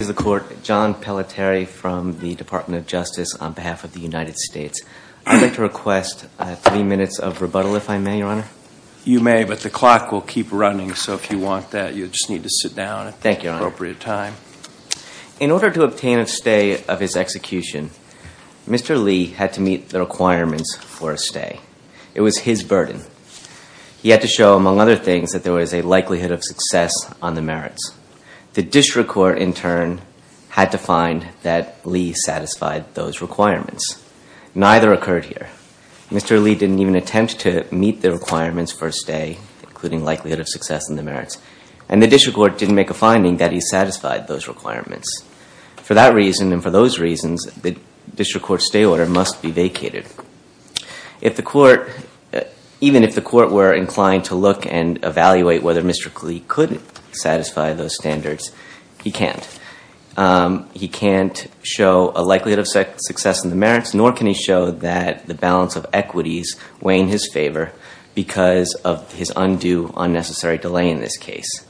is the court. John Pelletieri from the Department of Justice on behalf of the United States. I'd like to request three minutes of rebuttal if I may, your honor. You may, but the clock will keep running, so if you want that, you'll just need to sit down at the appropriate time. Thank you, your honor. In order to obtain a stay of his execution, Mr. Lee had to meet the requirements for a stay. It was his burden. He had to show, among other things, that there was a likelihood of success on the merits. The district court, in turn, had to find that Lee satisfied those requirements. Neither occurred here. Mr. Lee didn't even attempt to meet the requirements for a stay, including likelihood of success in the merits, and the district court didn't make a finding that he satisfied those requirements. For that reason and for those reasons, the district court's stay order must be vacated. Even if the court were inclined to look and meet those standards, he can't. He can't show a likelihood of success in the merits, nor can he show that the balance of equities weigh in his favor because of his undue, unnecessary delay in this case.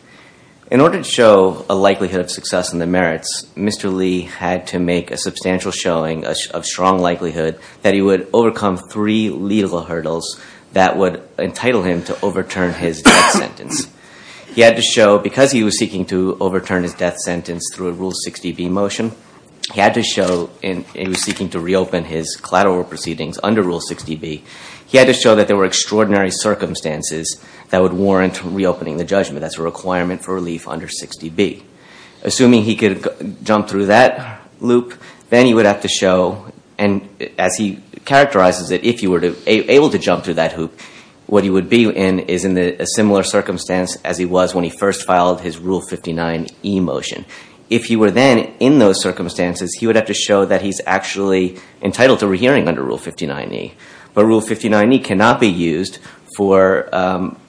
In order to show a likelihood of success in the merits, Mr. Lee had to make a substantial showing of strong likelihood that he would overcome three legal hurdles that would entitle him to overturn his death sentence. He had to show, because he was seeking to overturn his death sentence through a Rule 60B motion, he had to show, and he was seeking to reopen his collateral proceedings under Rule 60B, he had to show that there were extraordinary circumstances that would warrant reopening the judgment. That's a requirement for relief under 60B. Assuming he could jump through that loop, then he would have to show, and as he characterizes it, if he were able to jump through that hoop, what he would be in is in a similar circumstance as he was when he first filed his Rule 59E motion. If he were then in those circumstances, he would have to show that he's actually entitled to re-hearing under Rule 59E. But Rule 59E cannot be used for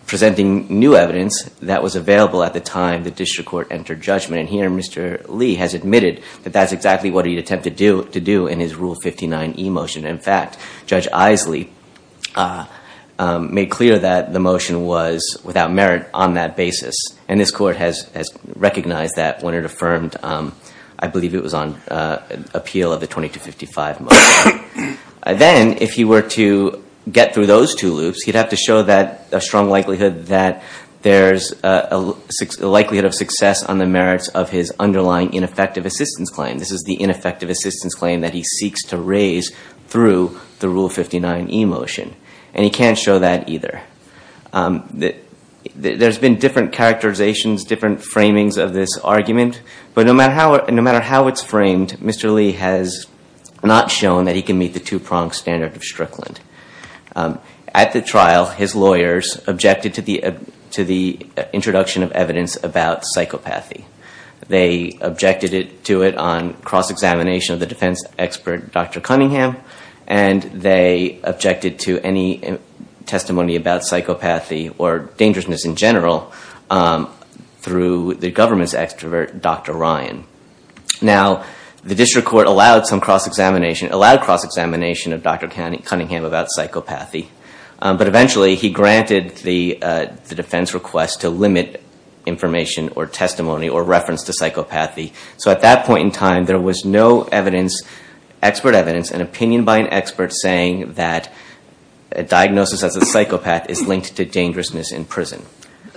presenting new evidence that was available at the time the district court entered judgment, and here Mr. Lee has admitted that that's exactly what he'd attempt to do in his Rule 59E motion. In fact, Judge Isley made clear that the motion was without merit on that basis, and this court has recognized that when it affirmed, I believe it was on appeal of the 2255 motion. Then, if he were to get through those two loops, he'd have to show a strong likelihood that there's a likelihood of success on the merits of his underlying ineffective assistance claim. This is the ineffective assistance claim that he seeks to raise through the Rule 59E motion, and he can't show that either. There's been different characterizations, different framings of this argument, but no matter how it's framed, Mr. Lee has not shown that he can meet the two-pronged standard of Strickland. At the trial, his lawyers objected to the introduction of evidence about psychopathy. They objected to it on cross-examination of the defense expert, Dr. Cunningham, and they objected to any testimony about psychopathy or dangerousness in general through the government's extrovert, Dr. Ryan. Now, the district court allowed cross-examination of Dr. Cunningham about psychopathy, but eventually he granted the defense request to limit information or testimony or reference to psychopathy. So at that point in time, there was no expert evidence, an opinion by an expert saying that a diagnosis as a psychopath is linked to dangerousness in prison.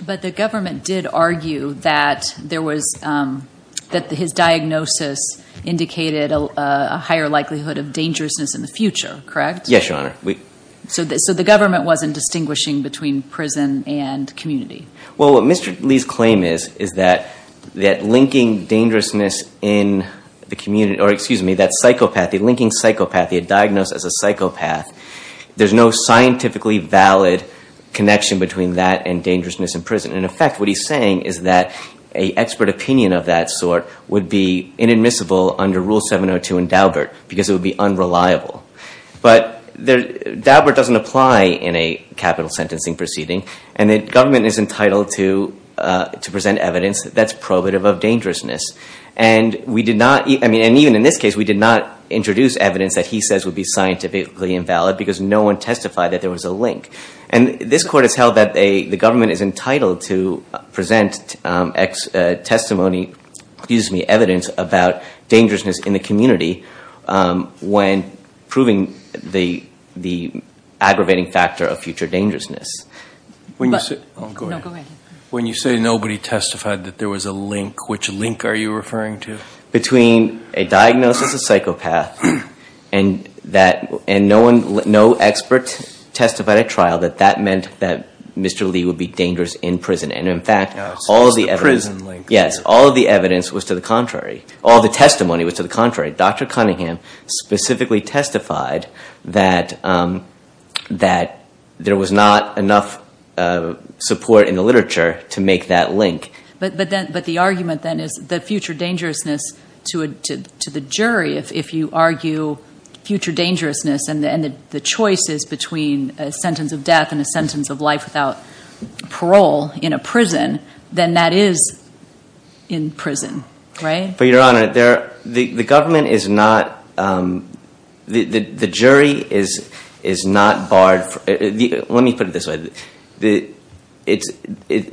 But the government did argue that his diagnosis indicated a higher likelihood of dangerousness in the future, correct? Yes, Your Honor. So the government wasn't distinguishing between prison and community? Well, what Mr. Lee's claim is, is that linking dangerousness in the community, or excuse me, that psychopathy, linking psychopathy, a diagnosis as a psychopath, there's no scientifically valid connection between that and dangerousness in prison. In effect, what he's saying is that an expert opinion of that sort would be inadmissible under Rule 702 in Daubert, because it would be unreliable. Daubert doesn't apply in a capital sentencing proceeding, and the government is entitled to present evidence that's probative of dangerousness. And even in this case, we did not introduce evidence that he says would be scientifically invalid, because no one testified that there was a link. And this Court has held that the government is entitled to present testimony, excuse me, evidence about dangerousness in the community when proving the aggravating factor of future dangerousness. When you say nobody testified that there was a link, which link are you referring to? Between a diagnosis of psychopath, and no expert testified at trial that that meant that Mr. Lee would be dangerous in prison. And, in fact, all of the evidence was to the contrary. All the testimony was to the contrary. Dr. Cunningham specifically testified that there was not enough support in the literature to make that link. But the argument, then, is that future dangerousness to the jury, if you argue future dangerousness and the choices between a sentence of death and a sentence of life without parole, and a sentence of prison, then that is in prison, right? For Your Honor, the government is not, the jury is not barred, let me put it this way,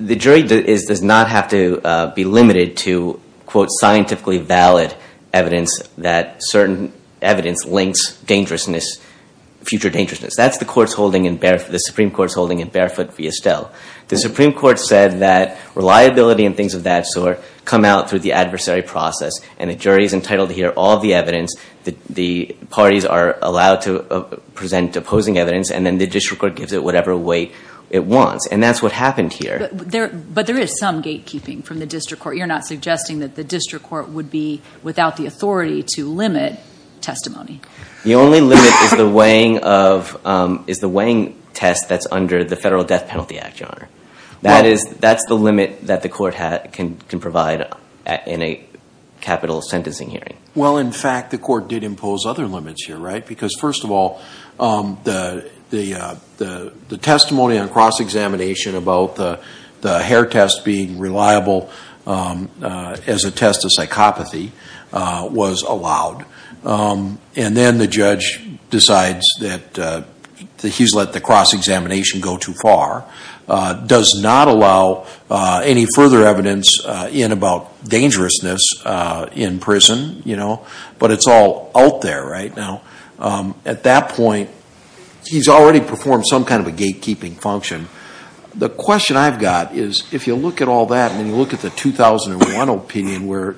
the jury does not have to be limited to, quote, scientifically valid evidence that certain evidence links dangerousness, future dangerousness. That's the Supreme Court's holding in Barefoot V. Estelle. The Supreme Court said that reliability and things of that sort come out through the adversary process, and the jury is entitled to hear all the evidence, the parties are allowed to present opposing evidence, and then the district court gives it whatever weight it wants. And that's what happened here. But there is some gatekeeping from the district court. You're not suggesting that the district court would be without the authority to limit testimony. The only limit is the weighing test that's under the Federal Death Penalty Act, Your Honor. That's the limit that the court can provide in a capital sentencing hearing. Well, in fact, the court did impose other limits here, right? Because, first of all, the testimony on cross-examination about the hair test being reliable as a test of psychopathy was allowed. And then the judge decides that he's let the cross-examination go too far, does not allow any further evidence in about dangerousness in prison, you know, but it's all out there right now. At that point, he's already performed some kind of a gatekeeping function. The question I've got is, if you look at all that and you look at the 2001 opinion, where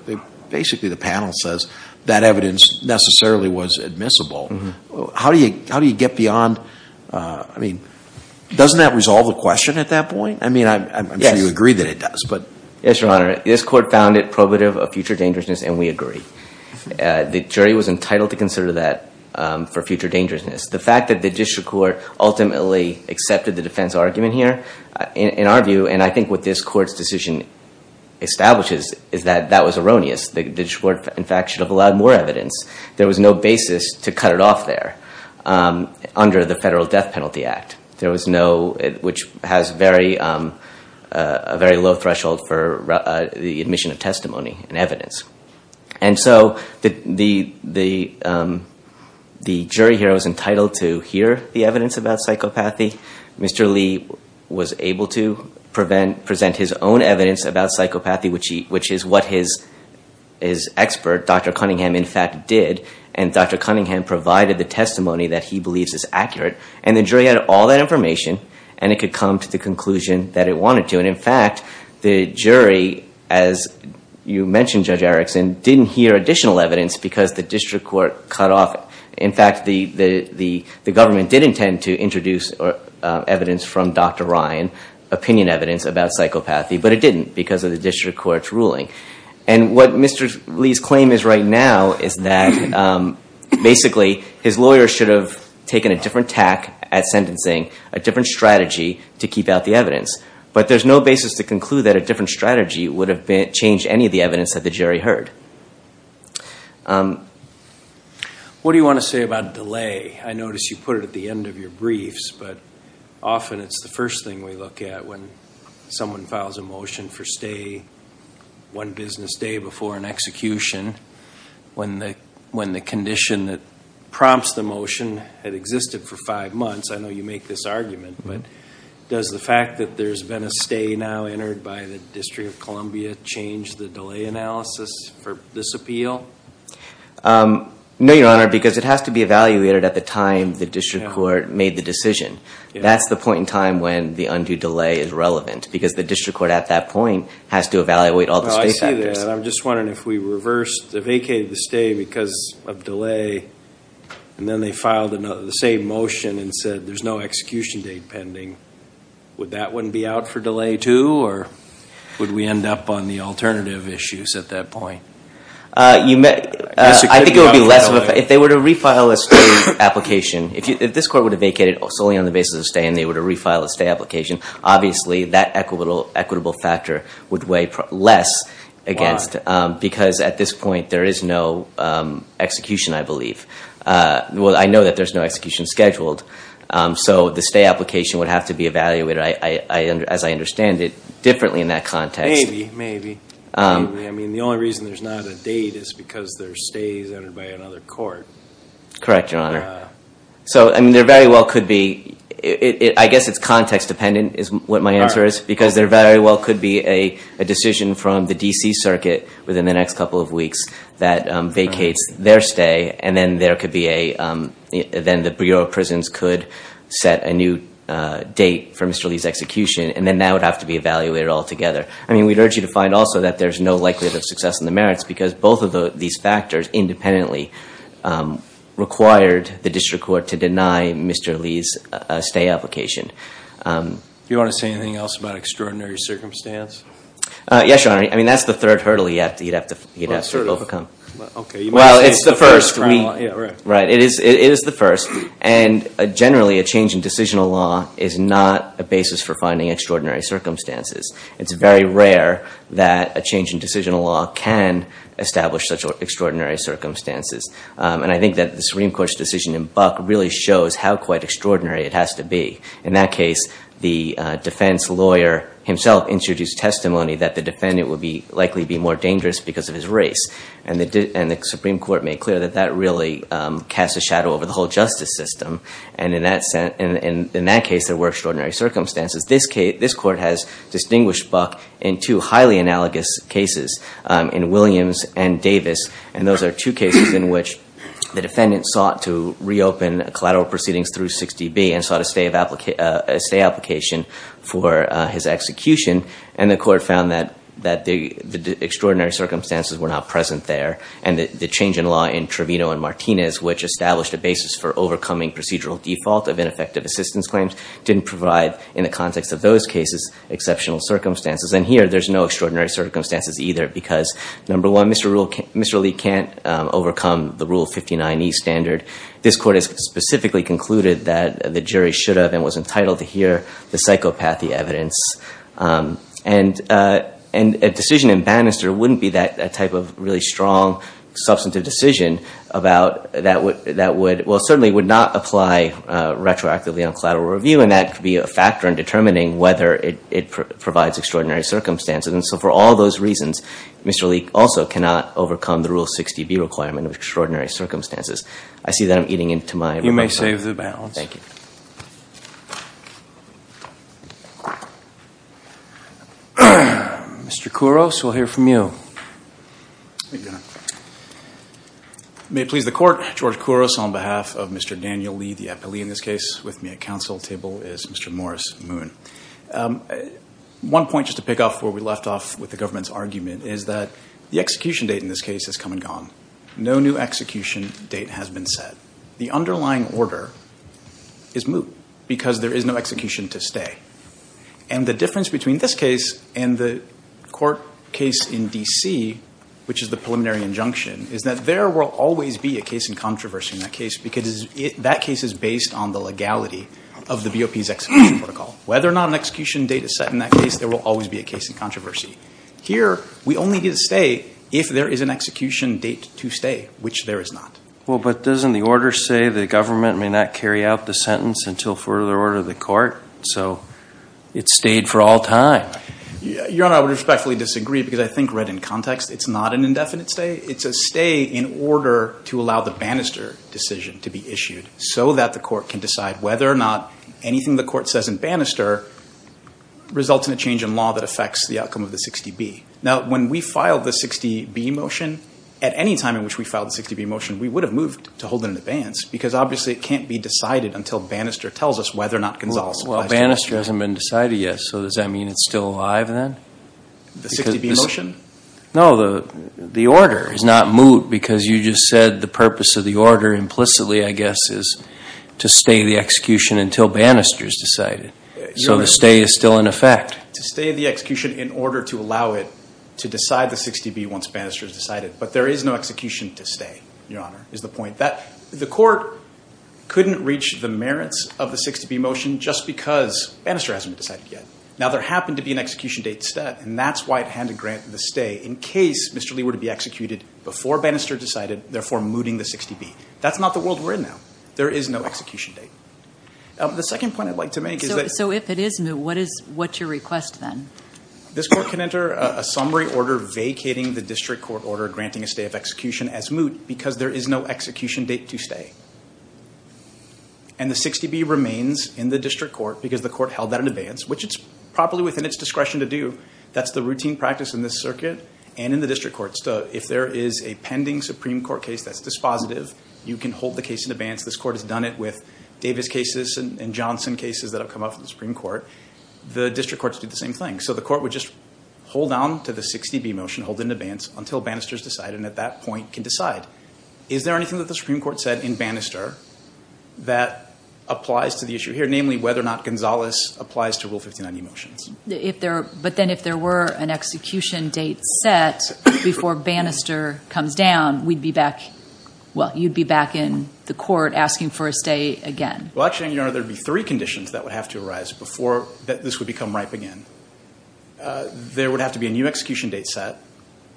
basically the panel says that evidence necessarily was admissible, how do you get beyond, I mean, doesn't that resolve the question at that point? I mean, I'm sure you agree that it does, but... Yes, Your Honor. This court found it probative of future dangerousness, and we agree. The jury was entitled to consider that for future dangerousness. The fact that the district court ultimately accepted the defense argument here, in our view, and I think what this court's decision establishes is that that was erroneous. The district court, in fact, should have allowed more evidence. There was no basis to cut it off there under the Federal Death Penalty Act, which has a very low threshold for the admission of testimony and evidence. And so the jury here was entitled to hear the evidence about psychopathy. Mr. Lee was able to present his own evidence about psychopathy, which is what his expert, Dr. Cunningham, in fact, did. And Dr. Cunningham provided the testimony that he believes is accurate. And the jury had all that information, and it could come to the conclusion that it wanted to. And in fact, the jury, as you mentioned, Judge Erickson, didn't hear additional evidence because the district court cut off, in fact, the government did intend to introduce evidence from Dr. Ryan, opinion evidence about psychopathy, but it didn't because of the district court's ruling. And what Mr. Lee's claim is right now is that basically his lawyer should have taken a different tack at sentencing, a different strategy to keep out the evidence. But there's no basis to conclude that a different strategy would have changed any of the evidence that the jury heard. What do you want to say about delay? I notice you put it at the end of your briefs, but often it's the first thing we look at when someone files a motion for stay one business day before an execution, when the condition that prompts the motion had existed for five months. I know you make this argument, but does the fact that there's been a stay now entered by the district court into this appeal? No, Your Honor, because it has to be evaluated at the time the district court made the decision. That's the point in time when the undue delay is relevant, because the district court at that point has to evaluate all the space factors. I see that, and I'm just wondering if we vacated the stay because of delay, and then they filed the same motion and said there's no execution date pending, would that one be out for delay too, or would we end up on the alternative issues at that point? I think it would be less of a factor. If they were to refile a stay application, if this court would have vacated solely on the basis of stay and they were to refile a stay application, obviously that equitable factor would weigh less against, because at this point there is no execution, I believe. Well, I know that there's no execution scheduled. So the stay application would have to be evaluated, as I understand it, differently in that context. Maybe, maybe. I mean, the only reason there's not a date is because their stay is entered by another court. Correct, Your Honor. I guess it's context dependent is what my answer is, because there very well could be a decision from the D.C. then the Bureau of Prisons could set a new date for Mr. Lee's execution, and then that would have to be evaluated altogether. I mean, we'd urge you to find also that there's no likelihood of success in the merits, because both of these factors independently required the district court to deny Mr. Lee's stay application. Do you want to say anything else about extraordinary circumstance? Yes, Your Honor. I mean, that's the third hurdle you'd have to overcome. Well, it's the first. And generally a change in decisional law is not a basis for finding extraordinary circumstances. It's very rare that a change in decisional law can establish such extraordinary circumstances. And I think that the Supreme Court's decision in Buck really shows how quite extraordinary it has to be. In that case, the defense lawyer himself introduced testimony that the defendant would likely be more dangerous because of his race. And the Supreme Court made clear that that really casts a shadow over the whole justice system. And in that case, there were extraordinary circumstances. This court has distinguished Buck in two highly analogous cases, in Williams and Davis. And those are two cases in which the defendant sought to reopen collateral proceedings through 60B and sought a stay application for his execution. And the court found that the extraordinary circumstances were not present there. And the change in law in Trevino and Martinez, which established a basis for overcoming procedural default of ineffective assistance claims, didn't provide, in the context of those cases, exceptional circumstances. And here, there's no extraordinary circumstances either because, number one, Mr. Lee can't overcome the Rule 59E standard. This court has specifically concluded that the jury should have and was entitled to hear the psychopathy evidence. And a decision in Bannister wouldn't be that type of really strong, substantive decision that certainly would not apply retroactively on collateral review. And that could be a factor in determining whether it provides extraordinary circumstances. And so for all those reasons, Mr. Lee also cannot overcome the Rule 60B requirement of extraordinary circumstances. I see that I'm eating into my rebuttal. Thank you. Mr. Kouros, we'll hear from you. May it please the court. George Kouros on behalf of Mr. Daniel Lee, the appellee in this case. With me at council table is Mr. Morris Moon. One point just to pick up where we left off with the government's argument is that the execution date in this case has come and gone. No new execution date has been set. The underlying order is moot because there is no execution to stay. And the difference between this case and the court case in D.C., which is the preliminary injunction, is that there will always be a case in controversy in that case, because that case is based on the legality of the BOP's execution protocol. Whether or not an execution date is set in that case, there will always be a case in controversy. Here, we only get a stay if there is an execution date to stay, which there is not. Well, but doesn't the order say the government may not carry out the sentence until further order of the court? So it stayed for all time. Your Honor, I would respectfully disagree, because I think read in context, it's not an indefinite stay. It's a stay in order to allow the banister decision to be issued so that the court can decide whether or not anything the court says in banister results in a change in law that affects the outcome of the 60B. Now, when we filed the 60B motion, at any time in which we filed the 60B motion, we would have moved to hold it in abeyance, because obviously it can't be decided until banister tells us whether or not Gonzales applies to the motion. Well, banister hasn't been decided yet, so does that mean it's still alive then? The 60B motion? No, the order is not moot, because you just said the purpose of the order implicitly, I guess, is to stay the execution until banister is decided. So the stay is still in effect. To stay the execution in order to allow it to decide the 60B once banister is decided. But there is no execution to stay, Your Honor, is the point. The court couldn't reach the merits of the 60B motion just because banister hasn't been decided yet. Now, there happened to be an execution date set, and that's why it had to grant the stay, in case Mr. Lee were to be executed before banister decided, therefore mooting the 60B. That's not the world we're in now. There is no execution date. So if it is moot, what's your request then? This court can enter a summary order vacating the district court order granting a stay of execution as moot because there is no execution date to stay. And the 60B remains in the district court because the court held that in advance, which it's properly within its discretion to do. That's the routine practice in this circuit and in the district courts. If there is a pending Supreme Court case that's dispositive, you can hold the case in advance. This court has done it with Davis cases and Johnson cases that have come up in the Supreme Court. The district courts do the same thing. So the court would just hold on to the 60B motion, hold it in advance until banister is decided, and at that point can decide. Is there anything that the Supreme Court said in banister that applies to the issue here, namely whether or not Gonzales applies to Rule 59E motions? But then if there were an execution date set before banister comes down, you'd be back in the court asking for a stay again. Well, actually, Your Honor, there would be three conditions that would have to arise before this would become ripe again. There would have to be a new execution date set.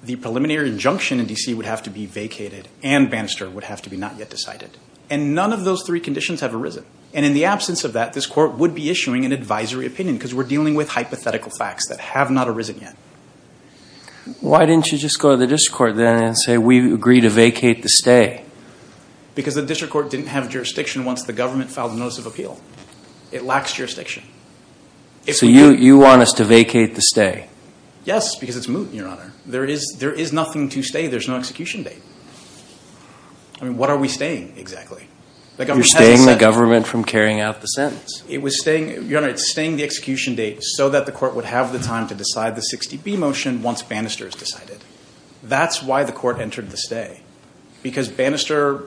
The preliminary injunction in D.C. would have to be vacated, and banister would have to be not yet decided. And none of those three conditions have arisen. And in the absence of that, this court would be issuing an advisory opinion because we're dealing with hypothetical facts that have not arisen yet. Why didn't you just go to the district court then and say, we agree to vacate the stay? Because the district court didn't have jurisdiction once the government filed a notice of appeal. It lacks jurisdiction. So you want us to vacate the stay? Yes, because it's moot, Your Honor. There is nothing to stay. There's no execution date. I mean, what are we staying, exactly? You're staying the government from carrying out the sentence. Your Honor, it's staying the execution date so that the court would have the time to decide the 60B motion once banister is decided. That's why the court entered the stay, because banister,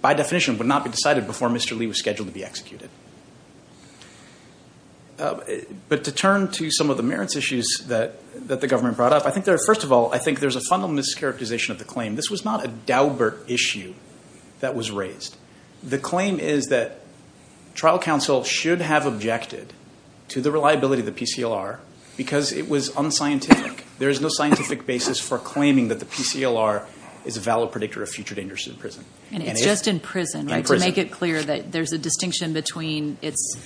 by definition, would not be decided before Mr. Lee was scheduled to be executed. But to turn to some of the merits issues that the government brought up, first of all, I think there's a fundamental mischaracterization of the claim. This was not a Daubert issue that was raised. The claim is that trial counsel should have objected to the reliability of the PCLR because it was unscientific. There is no scientific basis for claiming that the PCLR is a valid predictor of future dangers in prison. It's just in prison, right, to make it clear that there's a distinction between its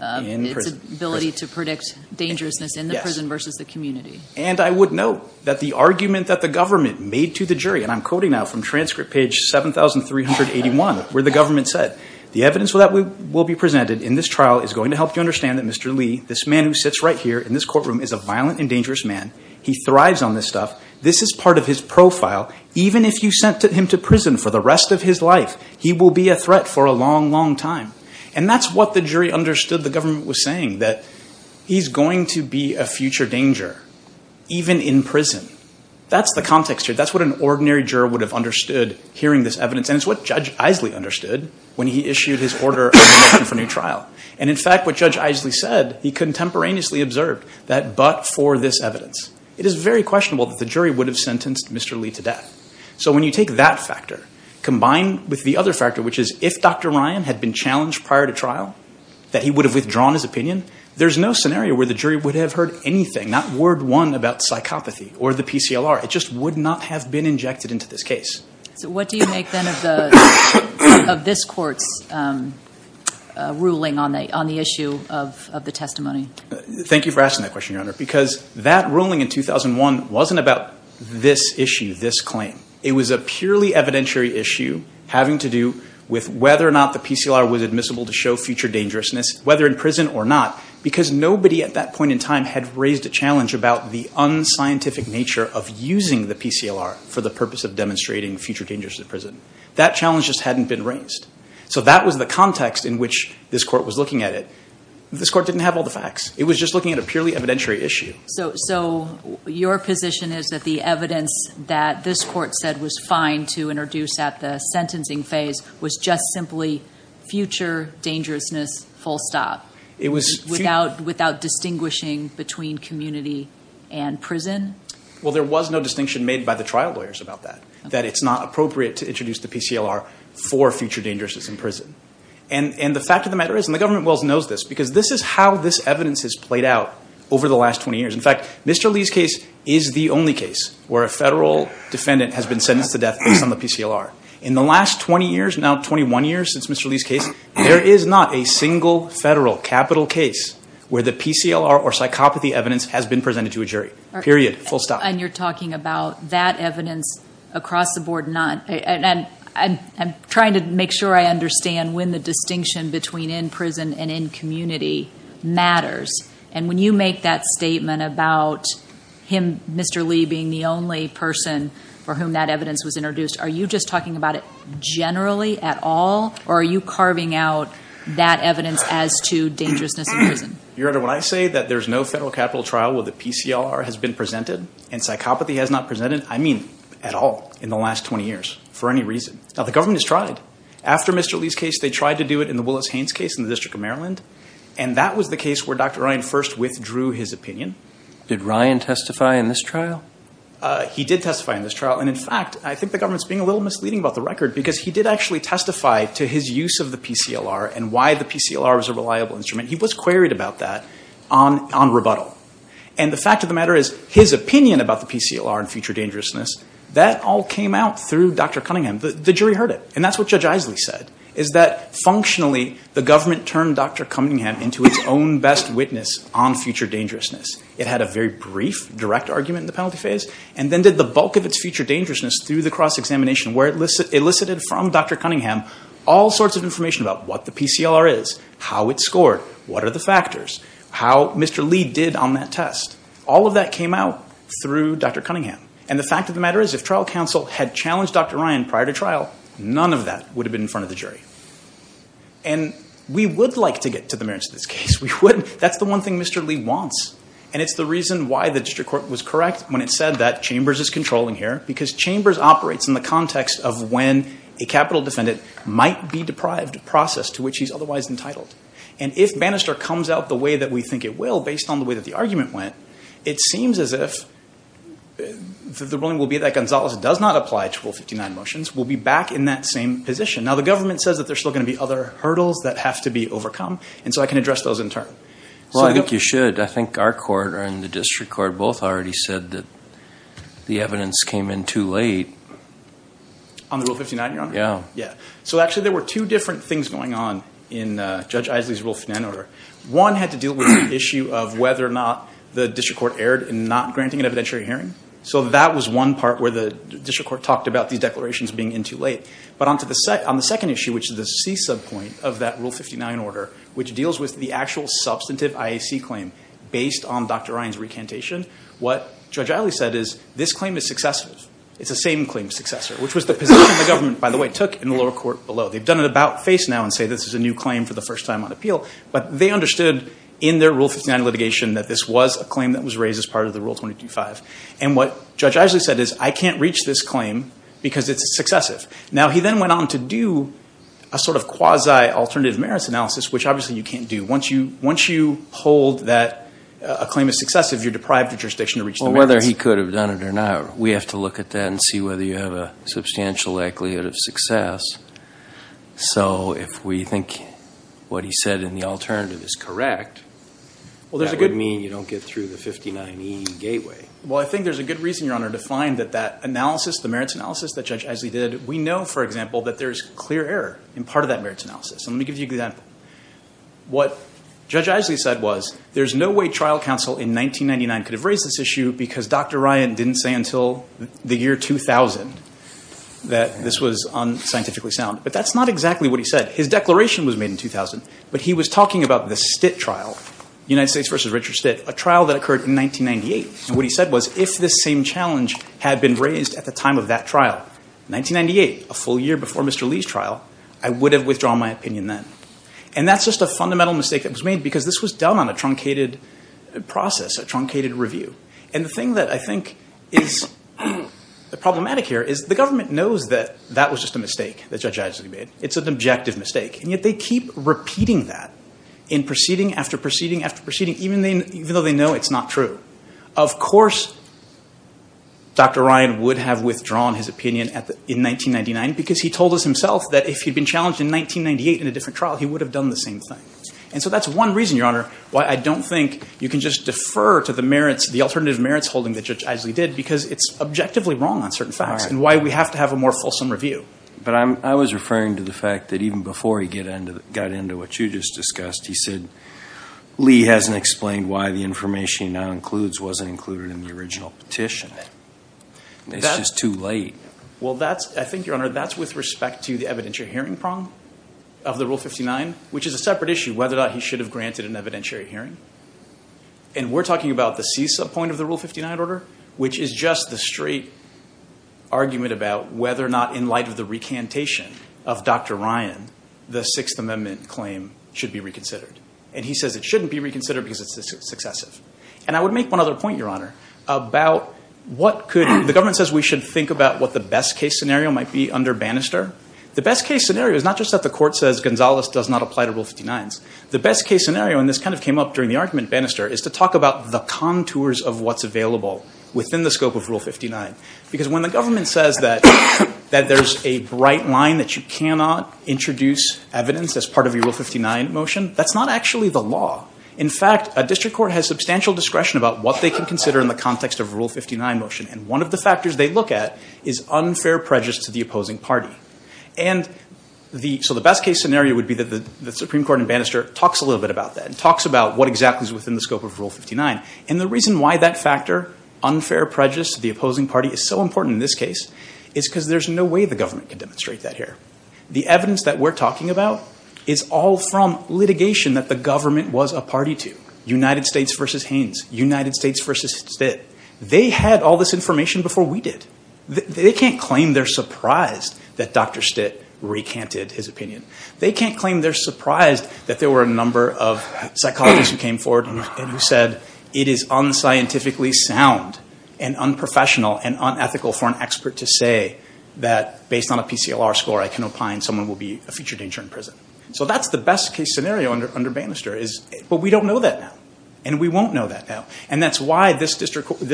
ability to predict dangerousness in the prison versus the community. And I would note that the argument that the government made to the jury, and I'm quoting now from transcript page 7381, where the government said, the evidence that will be presented in this trial is going to help you understand that Mr. Lee, this man who sits right here in this courtroom, is a violent and dangerous man. He thrives on this stuff. This is part of his profile. Even if you sent him to prison for the rest of his life, he will be a threat for a long, long time. And that's what the jury understood the government was saying, that he's going to be a future danger, even in prison. That's the context here. That's what an ordinary juror would have understood hearing this evidence. And it's what Judge Isley understood when he issued his order for a new trial. And in fact, what Judge Isley said, he contemporaneously observed that but for this evidence. It is very questionable that the jury would have sentenced Mr. Lee to death. So when you take that factor, combined with the other factor, which is if Dr. Ryan had been challenged prior to trial, that he would have withdrawn his opinion, there's no scenario where the jury would have heard anything, not word one about psychopathy or the PCLR. It just would not have been injected into this case. So what do you make then of this court's ruling on the issue of the testimony? Thank you for asking that question, Your Honor, because that ruling in 2001 wasn't about this issue, this claim. It was a purely evidentiary issue having to do with whether or not the PCLR was admissible to show future dangerousness, whether in prison or not, because nobody at that point in time had raised a challenge about the unscientific nature of using the PCLR for the purpose of demonstrating future dangerousness in prison. That challenge just hadn't been raised. So that was the context in which this court was looking at it. This court didn't have all the facts. It was just looking at a purely evidentiary issue. So your position is that the evidence that this court said was fine to introduce at the sentencing phase was just simply future dangerousness, full stop, without distinguishing between community and prison? Well, there was no distinction made by the trial lawyers about that, that it's not appropriate to introduce the PCLR for future dangerousness in prison. And the fact of the matter is, and the government knows this, because this is how this evidence has played out over the last 20 years. In fact, Mr. Lee's case is the only case where a federal defendant has been sentenced to death based on the PCLR. In the last 20 years, now 21 years since Mr. Lee's case, there is not a single federal, capital case where the PCLR or psychopathy evidence has been presented to a jury. Period. Full stop. And you're talking about that evidence across the board, and I'm trying to make sure I understand when the distinction between in prison and in community matters. And when you make that statement about him, Mr. Lee, being the only person for whom that evidence was introduced, are you just talking about it generally at all? Or are you carving out that evidence as to dangerousness in prison? Your Honor, when I say that there's no federal capital trial where the PCLR has been presented and psychopathy has not presented, I mean at all in the last 20 years for any reason. Now, the government has tried. After Mr. Lee's case, they tried to do it in the Willis Haynes case in the District of Maryland. And that was the case where Dr. Ryan first withdrew his opinion. Did Ryan testify in this trial? He did testify in this trial. And in fact, I think the government's being a little misleading about the record, because he did actually testify to his use of the PCLR and why the PCLR is a reliable instrument. He was queried about that on rebuttal. And the fact of the matter is, his opinion about the PCLR and future dangerousness, that all came out through Dr. Cunningham. The jury heard it. And that's what Judge Isley said, is that functionally the government turned Dr. Cunningham into its own best witness on future dangerousness. It had a very brief, direct argument in the penalty phase, and then did the bulk of its future dangerousness through the cross-examination, where it elicited from Dr. Cunningham all sorts of information about what the PCLR is, how it scored, what are the factors, how Mr. Lee did on that test. All of that came out through Dr. Cunningham. And the fact of the matter is, if trial counsel had challenged Dr. Ryan prior to trial, none of that would have been in front of the jury. And we would like to get to the merits of this case. That's the one thing Mr. Lee wants. And it's the reason why the district court was correct when it said that Chambers is controlling here, because Chambers operates in the context of when a capital defendant might be deprived of a process to which he's otherwise entitled. And if Bannister comes out the way that we think it will, based on the way that the argument went, it seems as if the ruling will be that Gonzalez does not apply to Rule 59 motions. We'll be back in that same position. Now, the government says that there's still going to be other hurdles that have to be overcome, and so I can address those in turn. Well, I think you should. I think our court and the district court both already said that the evidence came in too late. On the Rule 59, Your Honor? Yeah. So actually there were two different things going on in Judge Isley's Rule 59 order. One had to deal with the issue of whether or not the district court erred in not granting an evidentiary hearing. So that was one part where the district court talked about these declarations being in too late. But on the second issue, which is the C sub point of that Rule 59 order, which deals with the actual substantive IAC claim, based on Dr. Ryan's recantation, what Judge Isley said is this claim is successive. It's the same claim successor, which was the position the government, by the way, took in the lower court below. They've done it about face now and say this is a new claim for the first time on appeal, but they understood in their Rule 59 litigation that this was a claim that was raised as part of the Rule 22-5. And what Judge Isley said is I can't reach this claim because it's successive. Now he then went on to do a sort of quasi-alternative merits analysis, which obviously you can't do. Once you hold that a claim is successive, you're deprived of jurisdiction to reach the merits. Well, whether he could have done it or not, we have to look at that and see whether you have a substantial likelihood of success. So if we think what he said in the alternative is correct, that would mean you don't get through the 59E gateway. Well, I think there's a good reason, Your Honor, to find that that analysis, the merits analysis that Judge Isley did, we know, for example, that there's clear error in part of that merits analysis. And let me give you an example. What Judge Isley said was there's no way trial counsel in 1999 could have raised this issue because Dr. Ryan didn't say until the year 2000 that this was unscientifically sound. But that's not exactly what he said. His declaration was made in 2000. But he was talking about the Stitt trial, United States v. Richard Stitt, a trial that occurred in 1998. And what he said was if this same challenge had been raised at the time of that trial, 1998, a full year before Mr. Lee's trial, I would have withdrawn my opinion then. And that's just a fundamental mistake that was made because this was done on a truncated process, a truncated review. And the thing that I think is problematic here is the government knows that that was just a mistake that Judge Isley made. It's an objective mistake. And yet they keep repeating that in proceeding after proceeding after proceeding, even though they know it's not true. Of course, Dr. Ryan would have withdrawn his opinion in 1999 because he told us himself that if he'd been challenged in 1998 in a different trial, he would have done the same thing. And so that's one reason, Your Honor, why I don't think you can just defer to the merits, the alternative merits holding that Judge Isley did because it's objectively wrong on certain facts and why we have to have a more fulsome review. But I was referring to the fact that even before he got into what you just discussed, he said Lee hasn't explained why the information he now includes wasn't included in the original petition. It's just too late. Well, I think, Your Honor, that's with respect to the evidentiary hearing prong of the Rule 59, which is a separate issue, whether or not he should have granted an evidentiary hearing. And we're talking about the CESA point of the Rule 59 order, which is just the straight argument about whether or not, in light of the recantation of Dr. Ryan, the Sixth Amendment claim should be reconsidered. And he says it shouldn't be reconsidered because it's successive. And I would make one other point, Your Honor, about what could the government says we should think about what the best case scenario might be under Bannister. The best case scenario is not just that the court says Gonzalez does not apply to Rule 59s. The best case scenario, and this kind of came up during the argument at Bannister, is to talk about the contours of what's available within the scope of Rule 59. Because when the government says that there's a bright line that you cannot introduce evidence as part of a Rule 59 motion, that's not actually the law. In fact, a district court has substantial discretion about what they can consider in the context of a Rule 59 motion. And one of the factors they look at is unfair prejudice to the opposing party. So the best case scenario would be that the Supreme Court in Bannister talks a little bit about that. It talks about what exactly is within the scope of Rule 59. And the reason why that factor, unfair prejudice to the opposing party, is so important in this case is because there's no way the government can demonstrate that here. The evidence that we're talking about is all from litigation that the government was a party to. United States v. Haynes, United States v. Stitt. They had all this information before we did. They can't claim they're surprised that Dr. Stitt recanted his opinion. They can't claim they're surprised that there were a number of psychologists who came forward and who said, it is unscientifically sound and unprofessional and unethical for an expert to say that, based on a PCLR score, I can opine someone will be a future danger in prison. So that's the best case scenario under Bannister. But we don't know that now. And we won't know that now. And that's why this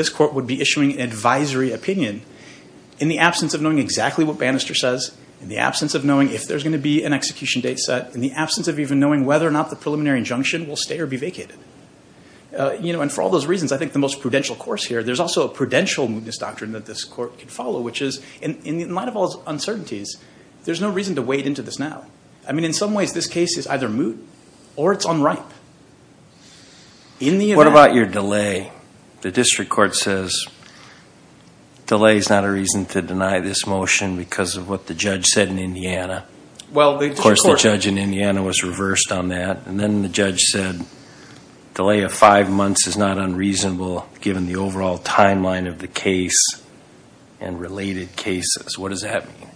court would be issuing an advisory opinion in the absence of knowing exactly what Bannister says, in the absence of knowing if there's going to be an execution date set, in the absence of even knowing whether or not the preliminary injunction will stay or be vacated. And for all those reasons, I think the most prudential course here, there's also a prudential mootness doctrine that this court can follow, which is, in light of all its uncertainties, there's no reason to wade into this now. I mean, in some ways, this case is either moot or it's unripe. What about your delay? The district court says, delay is not a reason to deny this motion because of what the judge said in Indiana. Of course, the judge in Indiana was reversed on that. And then the judge said, delay of five months is not unreasonable given the overall timeline of the case and related cases. What does that mean?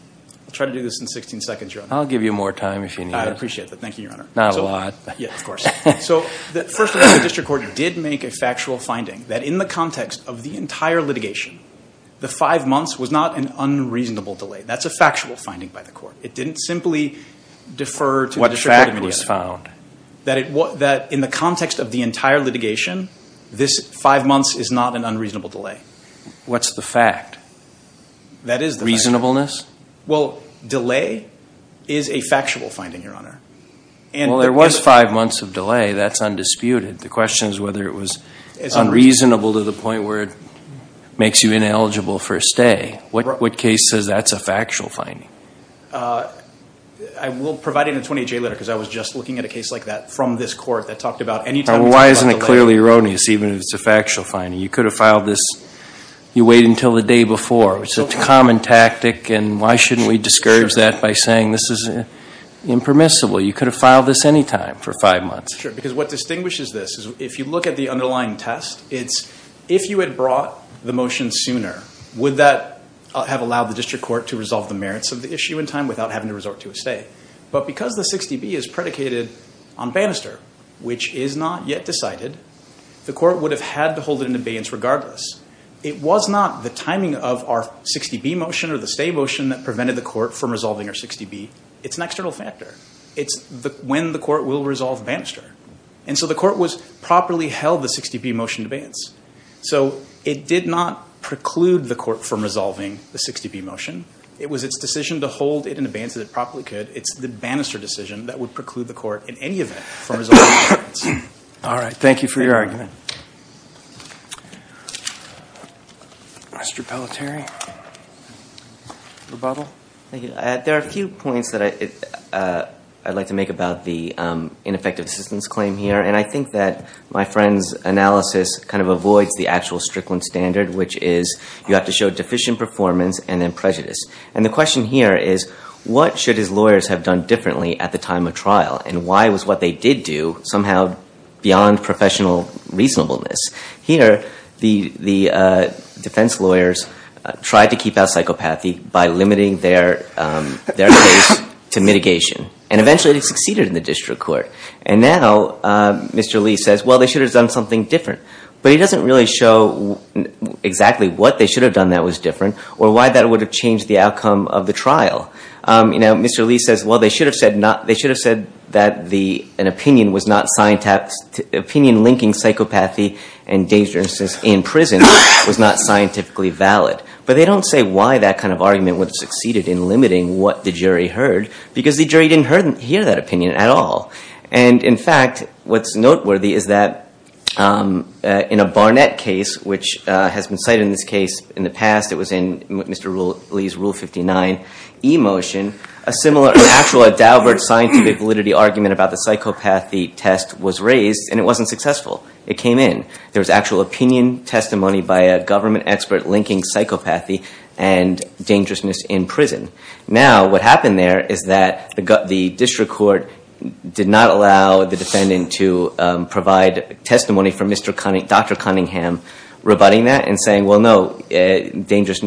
I'll try to do this in 16 seconds, Your Honor. I'll give you more time if you need it. I appreciate that. Thank you, Your Honor. Not a lot. First of all, the district court did make a factual finding that in the context of the entire litigation, the five months was not an unreasonable delay. That's a factual finding by the court. It didn't simply defer to the district court immediately. What fact was found? That in the context of the entire litigation, this five months is not an unreasonable delay. What's the fact? That is the fact. Reasonableness? Well, delay is a factual finding, Your Honor. Well, there was five months of delay. That's undisputed. The question is whether it was unreasonable to the point where it makes you ineligible for a stay. What case says that's a factual finding? I will provide it in a 28-J letter because I was just looking at a case like that from this court that talked about any time we talked about delay. Why isn't it clearly erroneous even if it's a factual finding? You could have filed this, you wait until the day before. It's a common tactic and why shouldn't we discourage that by saying this is impermissible? You could have filed this any time for five months. Sure, because what distinguishes this is if you look at the underlying test, it's if you had brought the motion sooner, would that have allowed the district court to resolve the merits of the issue in time without having to resort to a stay? But because the 60B is predicated on Bannister, which is not yet decided, the court would have had to hold it in abeyance regardless. It was not the timing of our 60B motion or the stay motion that prevented the court from resolving our 60B. It's an external factor. It's when the court will resolve Bannister. And so the court was properly held the 60B motion in abeyance. So it did not preclude the court from resolving the 60B motion. It was its decision to hold it in abeyance as it properly could. It's the Bannister decision that would preclude the court in any event from resolving the 60B motion. All right. Thank you for your argument. Mr. Pelletier? There are a few points that I'd like to make about the ineffective assistance claim here. And I think that my friend's analysis kind of avoids the actual Strickland standard, which is you have to show deficient performance and then prejudice. And the question here is, what should his lawyers have done differently at the time of trial? And why was what they did do somehow beyond professional reasonableness? Here, the defense lawyers tried to keep out psychopathy by limiting their case to mitigation. And eventually they succeeded in the district court. And now Mr. Lee says, well, they should have done something different. But he doesn't really show exactly what they should have done that was different or why that would have changed the outcome of the trial. Mr. Lee says, well, they should have said that an opinion linking psychopathy and dangerousness in prison was not scientifically valid. But they don't say why that kind of argument would have succeeded in limiting what the jury heard, because the jury didn't hear that opinion at all. And, in fact, what's noteworthy is that in a Barnett case, which has been cited in this case in the past, it was in Mr. Lee's Rule 59e motion, a similar actual scientific validity argument about the psychopathy test was raised, and it wasn't successful. It came in. There was actual opinion testimony by a government expert linking psychopathy and dangerousness in prison. Now what happened there is that the district court did not allow the defendant to provide testimony for Dr. Cunningham rebutting that and saying, well, no, psychopathy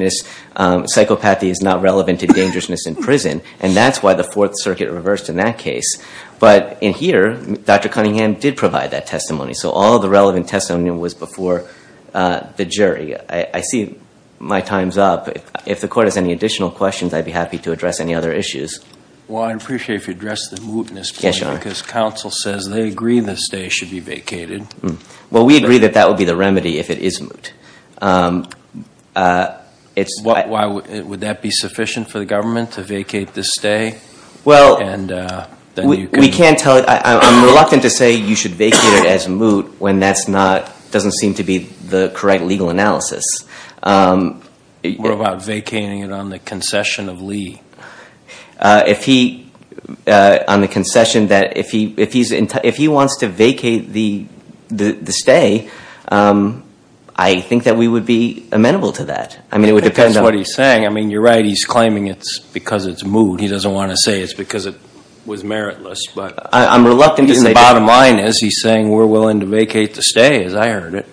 is not relevant to dangerousness in prison. And that's why the Fourth Circuit reversed in that case. But in here, Dr. Cunningham did provide that testimony, so all the relevant testimony was before the jury. I see my time's up. If the court has any additional questions, I'd be happy to address any other issues. Well, I'd appreciate if you addressed the mootness point, because counsel says they agree this stay should be vacated. Well, we agree that that would be the remedy if it is moot. Would that be sufficient for the government to vacate this stay? Well, we can't tell you. I'm reluctant to say you should vacate it as moot when that doesn't seem to be the correct legal analysis. What about vacating it on the concession of Lee? On the concession that if he wants to vacate the stay, I think that we would be amenable to that. I think that's what he's saying. You're right, he's claiming it's because it's moot. He doesn't want to say it's because it was meritless. I'm reluctant to say that. The bottom line is he's saying we're willing to vacate the stay, as I heard it.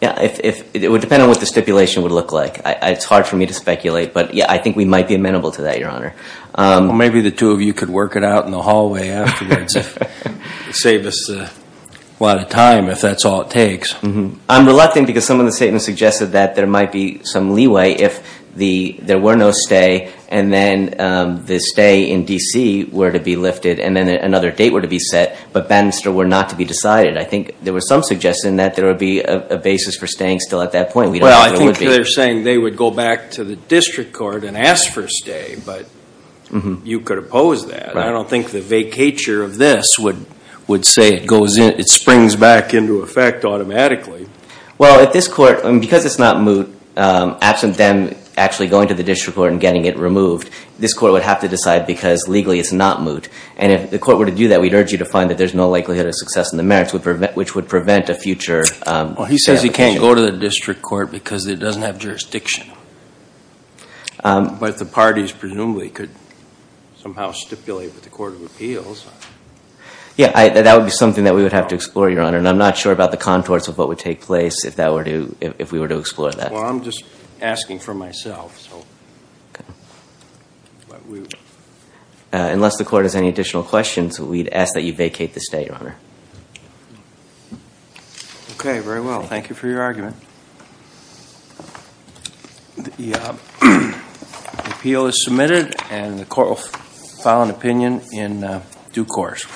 It would depend on what the stipulation would look like. It's hard for me to speculate, but I think we might be amenable to that, Your Honor. Well, maybe the two of you could work it out in the hallway afterwards. Save us a lot of time, if that's all it takes. I'm reluctant because some of the statements suggested that there might be some leeway if there were no stay, and then the stay in D.C. were to be lifted, and then another date were to be set, but Battenster were not to be decided. I think there was some suggestion that there would be a basis for staying still at that point. Well, I think they're saying they would go back to the district court and ask for a stay, but you could oppose that. I don't think the vacature of this would say it springs back into effect automatically. Well, because it's not moot, absent them actually going to the district court and getting it removed, this court would have to decide because legally it's not moot. And if the court were to do that, we'd urge you to find that there's no likelihood of success in the merits, which would prevent a future... Well, he says he can't go to the district court because it doesn't have jurisdiction. But the parties presumably could somehow stipulate with the Court of Appeals. Yeah, that would be something that we would have to explore, Your Honor, and I'm not sure about the contours of what would take place if we were to explore that. Well, I'm just asking for myself. Unless the court has any additional questions, we'd ask that you vacate the stay, Your Honor. Okay, very well. Thank you for your argument. The appeal is submitted and the court will file an opinion in due course.